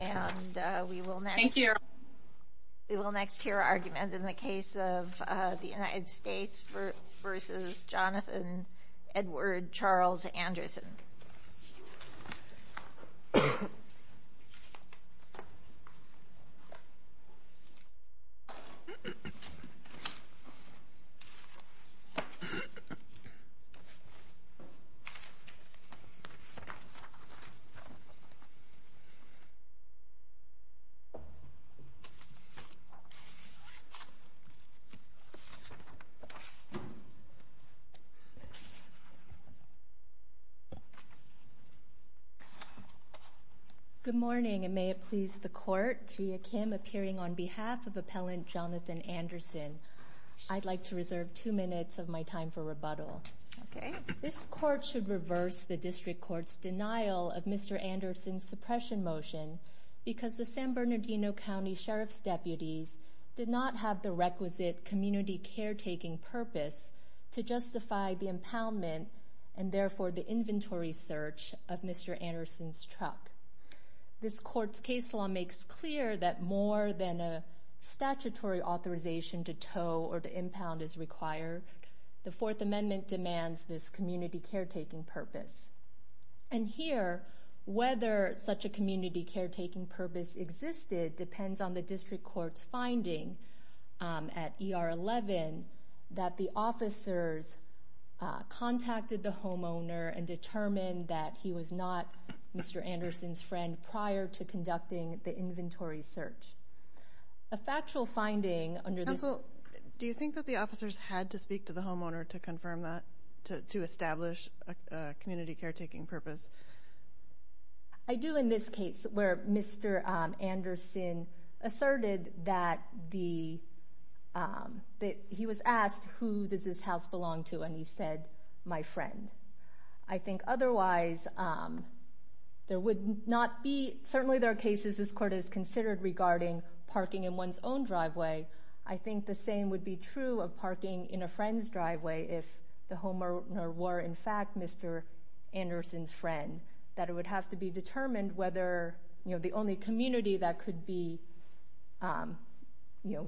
and we will next hear argument in the case of the United States v. Jonathan Edward Charles Good morning, and may it please the Court, Gia Kim appearing on behalf of Appellant Jonathan Anderson. I'd like to reserve two minutes of my time for rebuttal. This Court should reverse the District Court's denial of Mr. Anderson's suppression motion because the San Bernardino County Sheriff's deputies did not have the requisite community caretaking purpose to justify the impoundment and therefore the inventory search of Mr. Anderson's truck. This Court's case law makes clear that more than a statutory authorization to tow or to impound is required. The Fourth Amendment demands this community caretaking purpose. And here, whether such a community caretaking purpose existed depends on the District Court's finding at ER 11 that the officers contacted the homeowner and determined that he was not Mr. Anderson's friend prior to conducting the inventory search. A factual finding under this... Counsel, do you think that the officers had to speak to the homeowner to confirm that, to establish a community caretaking purpose? I do in this case where Mr. Anderson asserted that he was asked who does this house belong to and he said, my friend. I think otherwise there would not be... Certainly there are cases this Court has considered regarding parking in one's own driveway. I think the same would be true of parking in a friend's driveway if the homeowner were in fact Mr. Anderson's friend, that it would have to be determined whether the only community that could be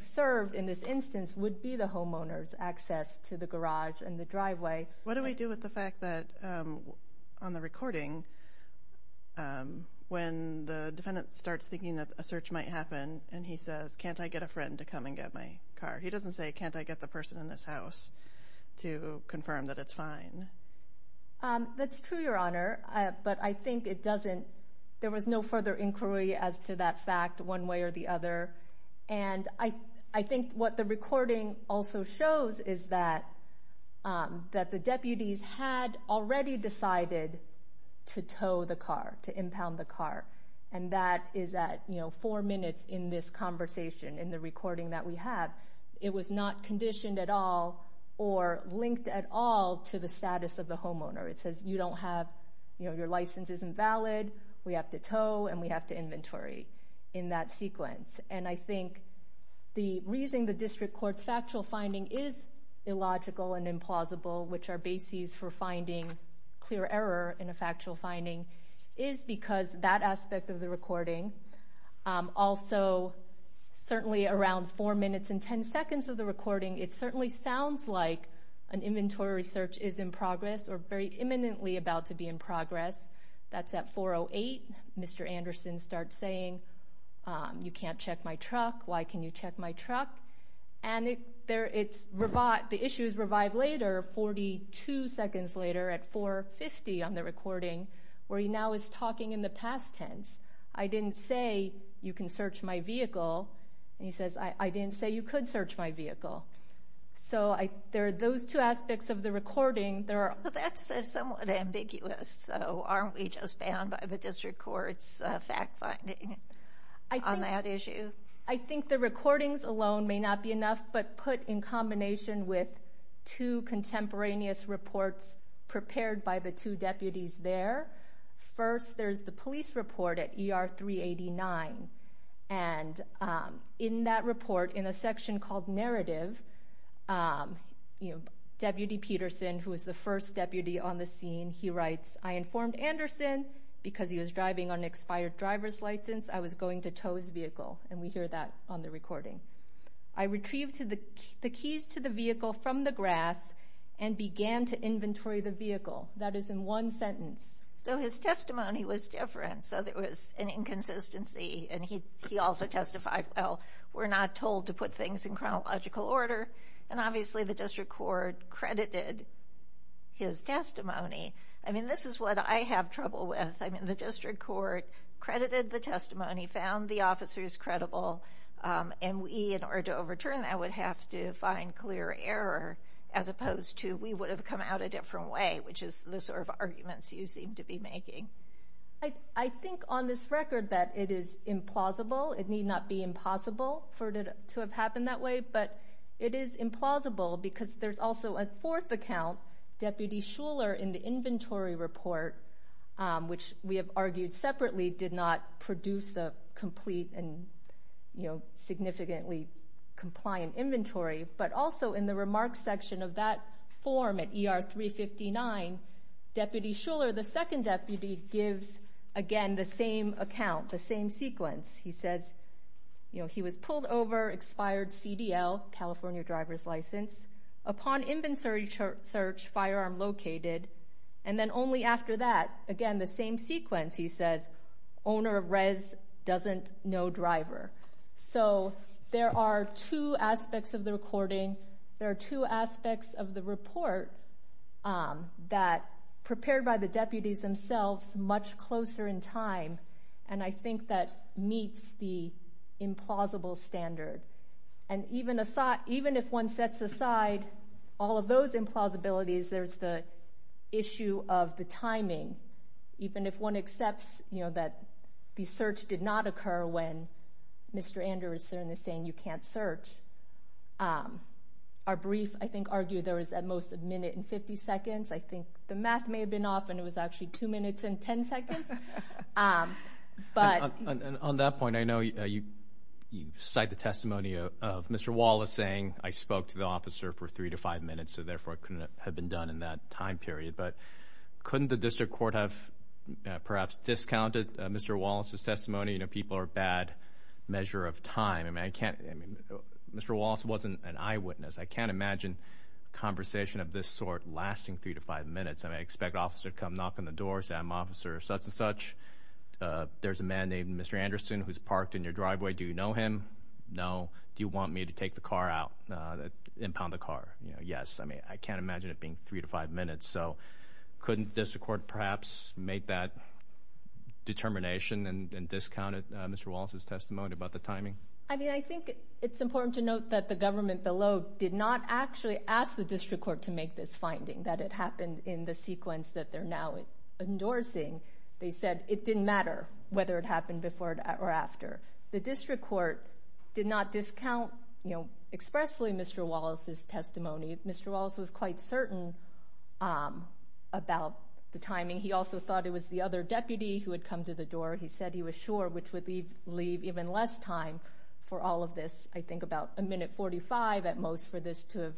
served in this instance would be the homeowner's access to the garage and the driveway. What do we do with the fact that on the recording when the defendant starts thinking that a search might happen and he says, can't I get a friend to come and get my car? He doesn't say, can't I get the person in this house to confirm that it's fine. That's true, Your Honor, but I think it doesn't... There was no further inquiry as to that fact one way or the other. I think what the recording also shows is that the deputies had already decided to tow the car, to impound the car. That is at four minutes in this conversation in the recording that we have. It was not conditioned at all or linked at all to the status of the homeowner. It says you don't have... Your license isn't valid. We have to tow and we have to inventory in that sequence. And I think the reason the district court's factual finding is illogical and implausible, which are bases for finding clear error in a factual finding, is because that aspect of the recording. Also, certainly around four minutes and ten seconds of the recording, it certainly sounds like an inventory search is in progress or very imminently about to be in progress. That's at 4.08. Mr. Anderson starts saying, you can't check my truck. Why can you check my truck? And the issue is revived later, 42 seconds later at 4.50 on the recording, where he now is talking in the past tense. I didn't say you can search my vehicle. And he says, I didn't say you could search my vehicle. So there are those two aspects of the recording. That's somewhat ambiguous. So aren't we just bound by the district court's fact finding on that issue? I think the recordings alone may not be enough, but put in combination with two contemporaneous reports prepared by the two deputies there. First, there's the police report at ER 389. And in that report, in a section called narrative, Deputy Peterson, who is the first deputy on the scene, he writes, I informed Anderson because he was driving on an expired driver's license I was going to tow his vehicle. And we hear that on the recording. I retrieved the keys to the vehicle from the grass and began to inventory the vehicle. That is in one sentence. So his testimony was different. So there was an inconsistency. And he also testified, well, we're not told to put things in chronological order. And obviously the district court credited his testimony. I mean, this is what I have trouble with. I mean, the district court credited the testimony, found the officers credible. And we, in order to overturn that, would have to find clear error, as opposed to we would have come out a different way, which is the sort of arguments you seem to be making. I think on this record that it is implausible. It need not be impossible for it to have happened that way. But it is implausible because there's also a fourth account, Deputy Shuler, in the inventory report, which we have argued separately did not produce a complete and significantly compliant inventory. But also in the remarks section of that form at ER 359, Deputy Shuler, the second deputy, gives, again, the same account, the same sequence. He says, you know, he was pulled over, expired CDL, California driver's license. Upon inventory search, firearm located. And then only after that, again, the same sequence, he says, owner of res doesn't know driver. So there are two aspects of the recording. There are two aspects of the report that prepared by the deputies themselves much closer in time. And I think that meets the implausible standard. And even if one sets aside all of those implausibilities, there's the issue of the timing. Even if one accepts, you know, that the search did not occur when Mr. Andrews is saying you can't search, our brief, I think, argued there was at most a minute and 50 seconds. I think the math may have been off and it was actually 2 minutes and 10 seconds. On that point, I know you cite the testimony of Mr. Wallace saying, I spoke to the officer for 3 to 5 minutes, so therefore it couldn't have been done in that time period. But couldn't the district court have perhaps discounted Mr. Wallace's testimony? You know, people are a bad measure of time. I mean, I can't, I mean, Mr. Wallace wasn't an eyewitness. I can't imagine a conversation of this sort lasting 3 to 5 minutes. I mean, I expect an officer to come knocking on the door, say, I'm officer such and such. There's a man named Mr. Anderson who's parked in your driveway. Do you know him? No. Do you want me to take the car out, impound the car? Yes. I mean, I can't imagine it being 3 to 5 minutes. So couldn't district court perhaps make that determination and discount Mr. Wallace's testimony about the timing? I mean, I think it's important to note that the government below did not actually ask the district court to make this finding, that it happened in the sequence that they're now endorsing. They said it didn't matter whether it happened before or after. The district court did not discount expressly Mr. Wallace's testimony. Mr. Wallace was quite certain about the timing. He also thought it was the other deputy who had come to the door. He said he was sure, which would leave even less time for all of this. I think about a minute 45 at most for this to have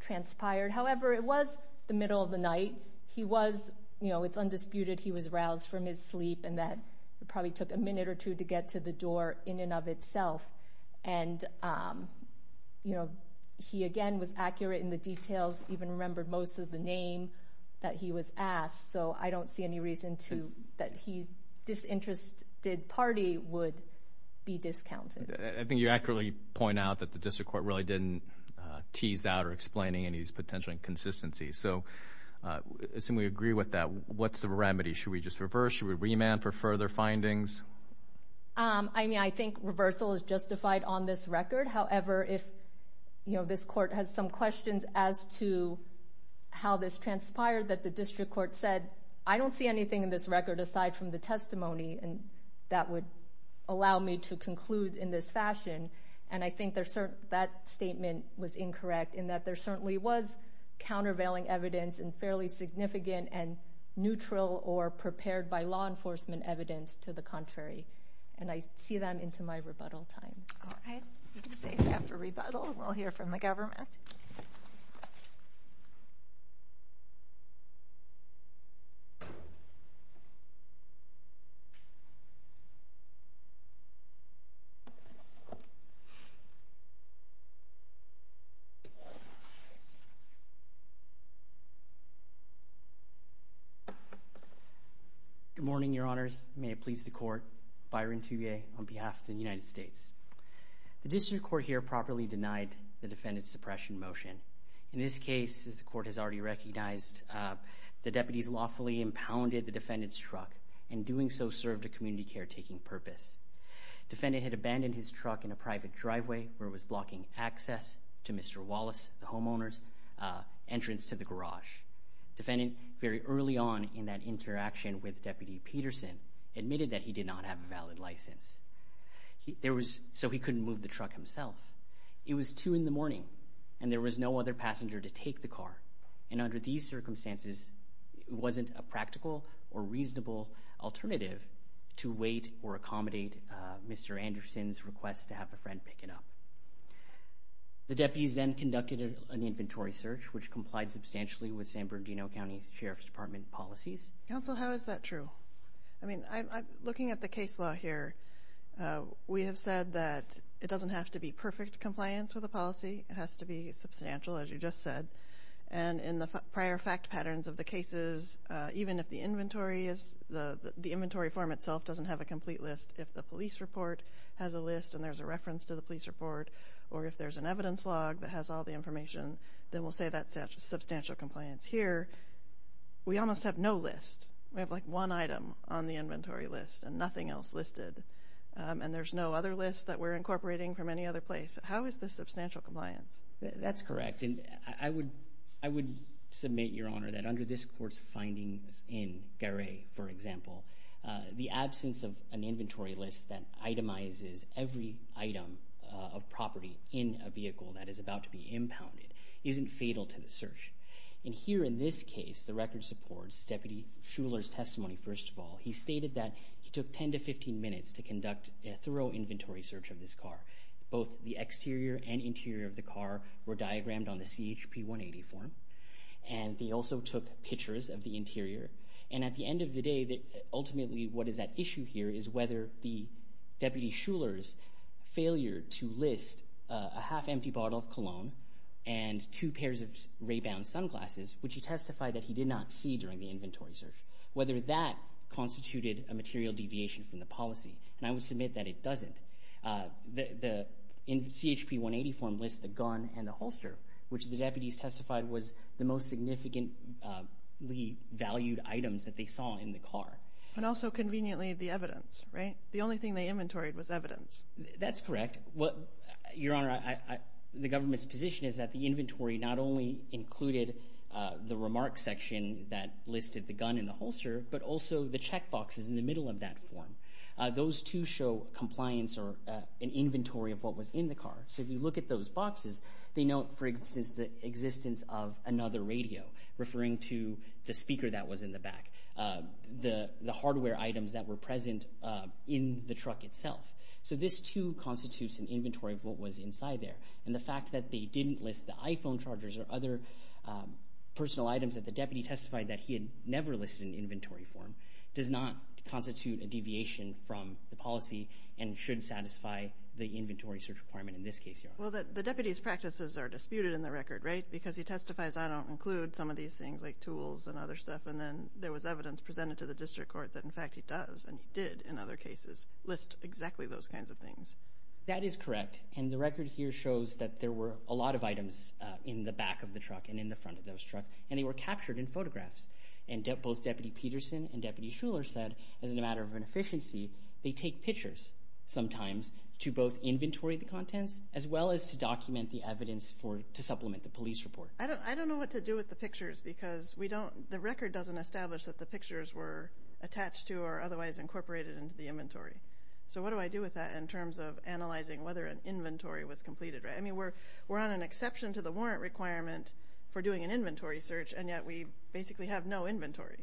transpired. However, it was the middle of the night. He was, you know, it's undisputed he was roused from his sleep and that it probably took a minute or two to get to the door in and of itself. And, you know, he again was accurate in the details, even remembered most of the name that he was asked. So I don't see any reason that his disinterested party would be discounted. I think you accurately point out that the district court really didn't tease out or explain any of these potential inconsistencies. So I assume we agree with that. What's the remedy? Should we just reverse? Should we remand for further findings? I mean, I think reversal is justified on this record. However, if this court has some questions as to how this transpired, that the district court said, I don't see anything in this record aside from the testimony that would allow me to conclude in this fashion. And I think that statement was incorrect in that there certainly was countervailing evidence and fairly significant and neutral or prepared by law enforcement evidence to the contrary. And I see that into my rebuttal time. All right. We can save that for rebuttal and we'll hear from the government. Good morning, Your Honors. May it please the court. Byron Tuye on behalf of the United States. The district court here properly denied the defendant's suppression motion. In this case, as the court has already recognized, the deputies lawfully impounded the defendant's truck and in doing so served a community care-taking purpose. The defendant had abandoned his truck in a private driveway where it was blocking access to Mr. Wallace, the homeowner's entrance to the garage. The defendant, very early on in that interaction with Deputy Peterson, admitted that he did not have a valid license. So he couldn't move the truck himself. It was 2 in the morning and there was no other passenger to take the car. And under these circumstances, it wasn't a practical or reasonable alternative to wait or accommodate Mr. Anderson's request to have a friend pick it up. The deputies then conducted an inventory search which complied substantially with San Bernardino County Sheriff's Department policies. Counsel, how is that true? I mean, looking at the case law here, we have said that it doesn't have to be perfect compliance with the policy. It has to be substantial, as you just said. And in the prior fact patterns of the cases, even if the inventory form itself doesn't have a complete list, if the police report has a list and there's a reference to the police report, or if there's an evidence log that has all the information, then we'll say that's substantial compliance. Here, we almost have no list. We have, like, one item on the inventory list and nothing else listed. And there's no other list that we're incorporating from any other place. How is this substantial compliance? That's correct. And I would submit, Your Honor, that under this court's findings in Garay, for example, the absence of an inventory list that itemizes every item of property in a vehicle that is about to be impounded isn't fatal to the search. And here in this case, the record supports Deputy Shuler's testimony, first of all. He stated that he took 10 to 15 minutes to conduct a thorough inventory search of this car. Both the exterior and interior of the car were diagrammed on the CHP 180 form. And they also took pictures of the interior. And at the end of the day, ultimately what is at issue here is whether the Deputy Shuler's failure to list a half-empty bottle of cologne and two pairs of ray-bound sunglasses, which he testified that he did not see during the inventory search, whether that constituted a material deviation from the policy. And I would submit that it doesn't. The CHP 180 form lists the gun and the holster, which the deputies testified was the most significantly valued items that they saw in the car. And also, conveniently, the evidence, right? The only thing they inventoried was evidence. That's correct. Your Honor, the government's position is that the inventory not only included the remarks section that listed the gun and the holster, but also the check boxes in the middle of that form. Those, too, show compliance or an inventory of what was in the car. So if you look at those boxes, they note, for instance, the existence of another radio referring to the speaker that was in the back, the hardware items that were present in the truck itself. So this, too, constitutes an inventory of what was inside there. And the fact that they didn't list the iPhone chargers or other personal items that the deputy testified that he had never listed in inventory form does not constitute a deviation from the policy and should satisfy the inventory search requirement in this case, Your Honor. Well, the deputy's practices are disputed in the record, right? Because he testifies, I don't include some of these things like tools and other stuff, and then there was evidence presented to the district court that, in fact, he does, and he did, in other cases, list exactly those kinds of things. That is correct, and the record here shows that there were a lot of items in the back of the truck and in the front of those trucks, and they were captured in photographs. And both Deputy Peterson and Deputy Shuler said, as a matter of inefficiency, they take pictures sometimes to both inventory the contents as well as to document the evidence to supplement the police report. I don't know what to do with the pictures because the record doesn't establish that the pictures were attached to or otherwise incorporated into the inventory. So what do I do with that in terms of analyzing whether an inventory was completed? I mean, we're on an exception to the warrant requirement for doing an inventory search, and yet we basically have no inventory.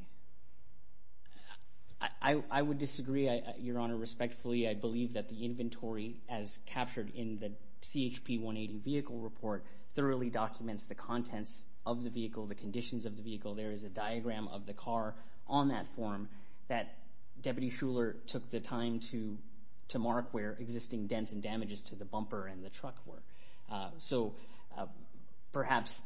I would disagree, Your Honor, respectfully. I believe that the inventory, as captured in the CHP 180 vehicle report, thoroughly documents the contents of the vehicle, the conditions of the vehicle. There is a diagram of the car on that form that Deputy Shuler took the time to mark where existing dents and damages to the bumper and the truck were. So perhaps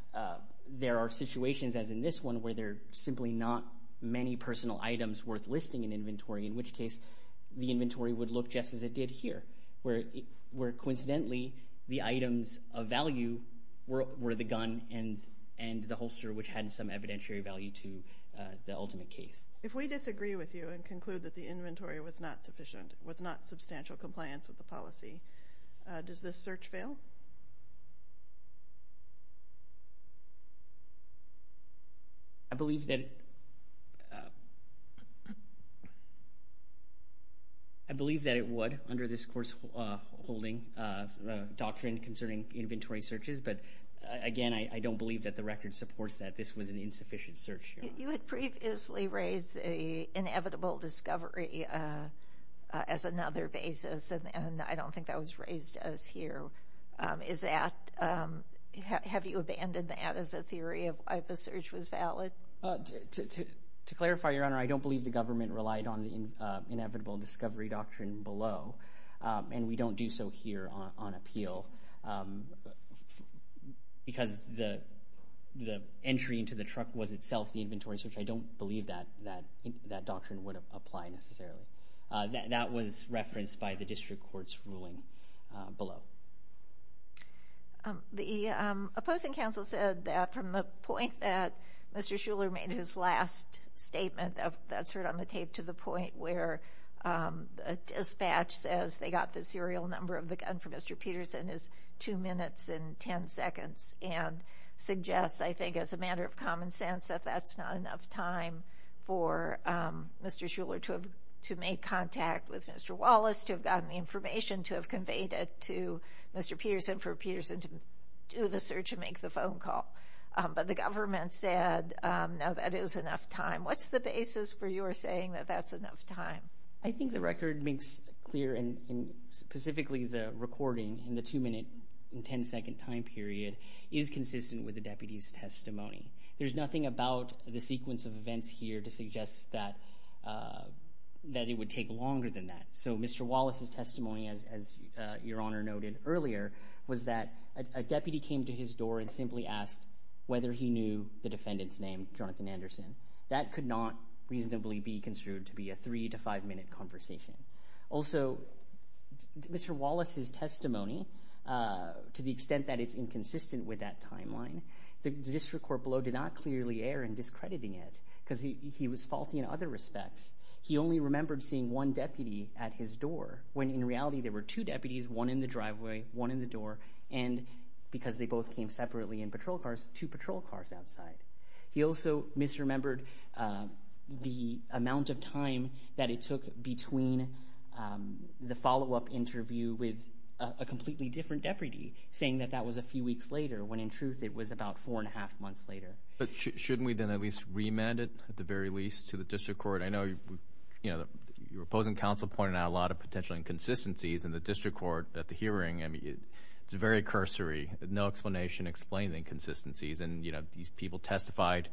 there are situations, as in this one, where there are simply not many personal items worth listing in inventory, in which case the inventory would look just as it did here, where coincidentally the items of value were the gun and the holster, which had some evidentiary value to the ultimate case. If we disagree with you and conclude that the inventory was not sufficient, does this search fail? I believe that it would under this courseholding doctrine concerning inventory searches, but again, I don't believe that the record supports that this was an insufficient search. You had previously raised the inevitable discovery as another basis, and I don't think that was raised as here. Have you abandoned that as a theory of why the search was valid? To clarify, Your Honor, I don't believe the government relied on the inevitable discovery doctrine below, and we don't do so here on appeal, because the entry into the truck was itself the inventory search. I don't believe that doctrine would apply necessarily. That was referenced by the district court's ruling below. The opposing counsel said that from the point that Mr. Shuler made his last statement, that's heard on the tape, to the point where a dispatch says they got the serial number of the gun from Mr. Peterson is two minutes and ten seconds, and suggests, I think, as a matter of common sense, that that's not enough time for Mr. Shuler to have made contact with Mr. Wallace, to have gotten the information, to have conveyed it to Mr. Peterson for Peterson to do the search and make the phone call. But the government said, no, that is enough time. What's the basis for your saying that that's enough time? I think the record makes clear, and specifically the recording in the two-minute and ten-second time period is consistent with the deputy's testimony. There's nothing about the sequence of events here to suggest that it would take longer than that. So Mr. Wallace's testimony, as Your Honor noted earlier, was that a deputy came to his door and simply asked whether he knew the defendant's name, Jonathan Anderson. That could not reasonably be construed to be a three- to five-minute conversation. Also, Mr. Wallace's testimony, to the extent that it's inconsistent with that timeline, the district court below did not clearly err in discrediting it, because he was faulty in other respects. He only remembered seeing one deputy at his door, when in reality there were two deputies, one in the driveway, one in the door, and because they both came separately in patrol cars, two patrol cars outside. He also misremembered the amount of time that it took between the follow-up interview with a completely different deputy, saying that that was a few weeks later, when in truth it was about four-and-a-half months later. But shouldn't we then at least remand it, at the very least, to the district court? I know your opposing counsel pointed out a lot of potential inconsistencies in the district court at the hearing. It's very cursory, no explanation explaining the inconsistencies, and these people testified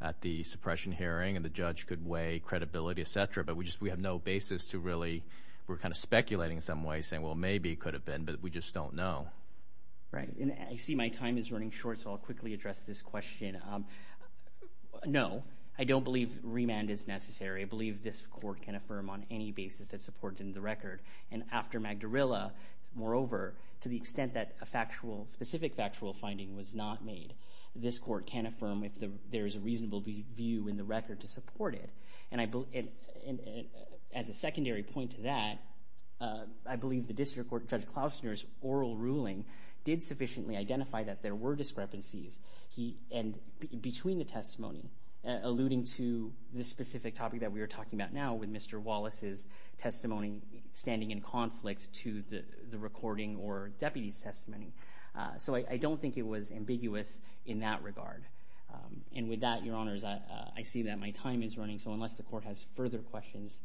at the suppression hearing, and the judge could weigh credibility, et cetera, but we have no basis to really, we're kind of speculating in some way, saying, well, maybe it could have been, but we just don't know. Right, and I see my time is running short, so I'll quickly address this question. No, I don't believe remand is necessary. I believe this court can affirm on any basis that support in the record. And after Magdarella, moreover, to the extent that a specific factual finding was not made, this court can affirm if there is a reasonable view in the record to support it. And as a secondary point to that, I believe the district court Judge Klausner's oral ruling did sufficiently identify that there were discrepancies between the testimony, alluding to this specific topic that we are talking about now with Mr. Wallace's testimony standing in conflict to the recording or deputy's testimony. So I don't think it was ambiguous in that regard. And with that, Your Honors, I see that my time is running, so unless the court has further questions,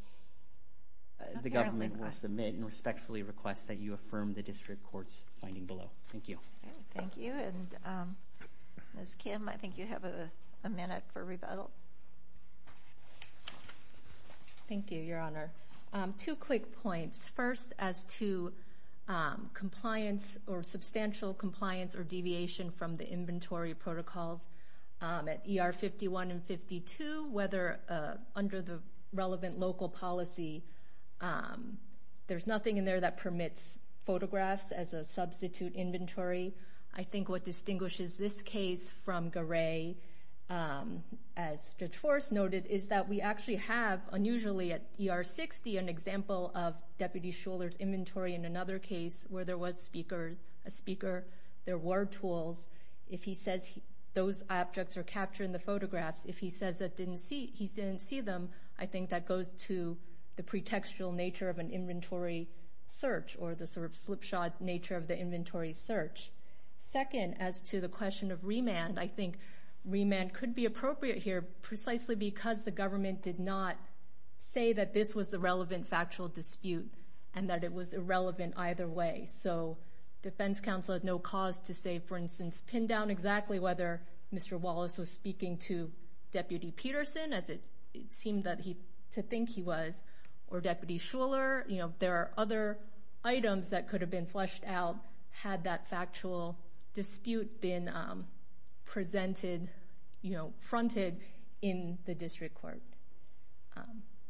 the government will submit and respectfully request that you affirm the district court's finding below. Thank you. Thank you. And Ms. Kim, I think you have a minute for rebuttal. Thank you, Your Honor. Two quick points. First, as to compliance or substantial compliance or deviation from the inventory protocols at ER 51 and 52, whether under the relevant local policy, there's nothing in there that permits photographs as a substitute inventory. I think what distinguishes this case from Garay, as Judge Forrest noted, is that we actually have, unusually at ER 60, an example of Deputy Shuler's inventory in another case where there was a speaker. There were tools. If he says those objects are captured in the photographs, if he says he didn't see them, I think that goes to the pretextual nature of an inventory search or the sort of slipshod nature of the inventory search. Second, as to the question of remand, I think remand could be appropriate here precisely because the government did not say that this was the relevant factual dispute and that it was irrelevant either way. So defense counsel had no cause to say, for instance, pin down exactly whether Mr. Wallace was speaking to Deputy Peterson, as it seemed to think he was, or Deputy Shuler. There are other items that could have been fleshed out had that factual dispute been presented, fronted in the district court.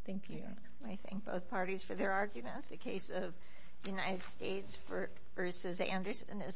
Thank you. I thank both parties for their arguments. The case of United States v. Anderson is submitted.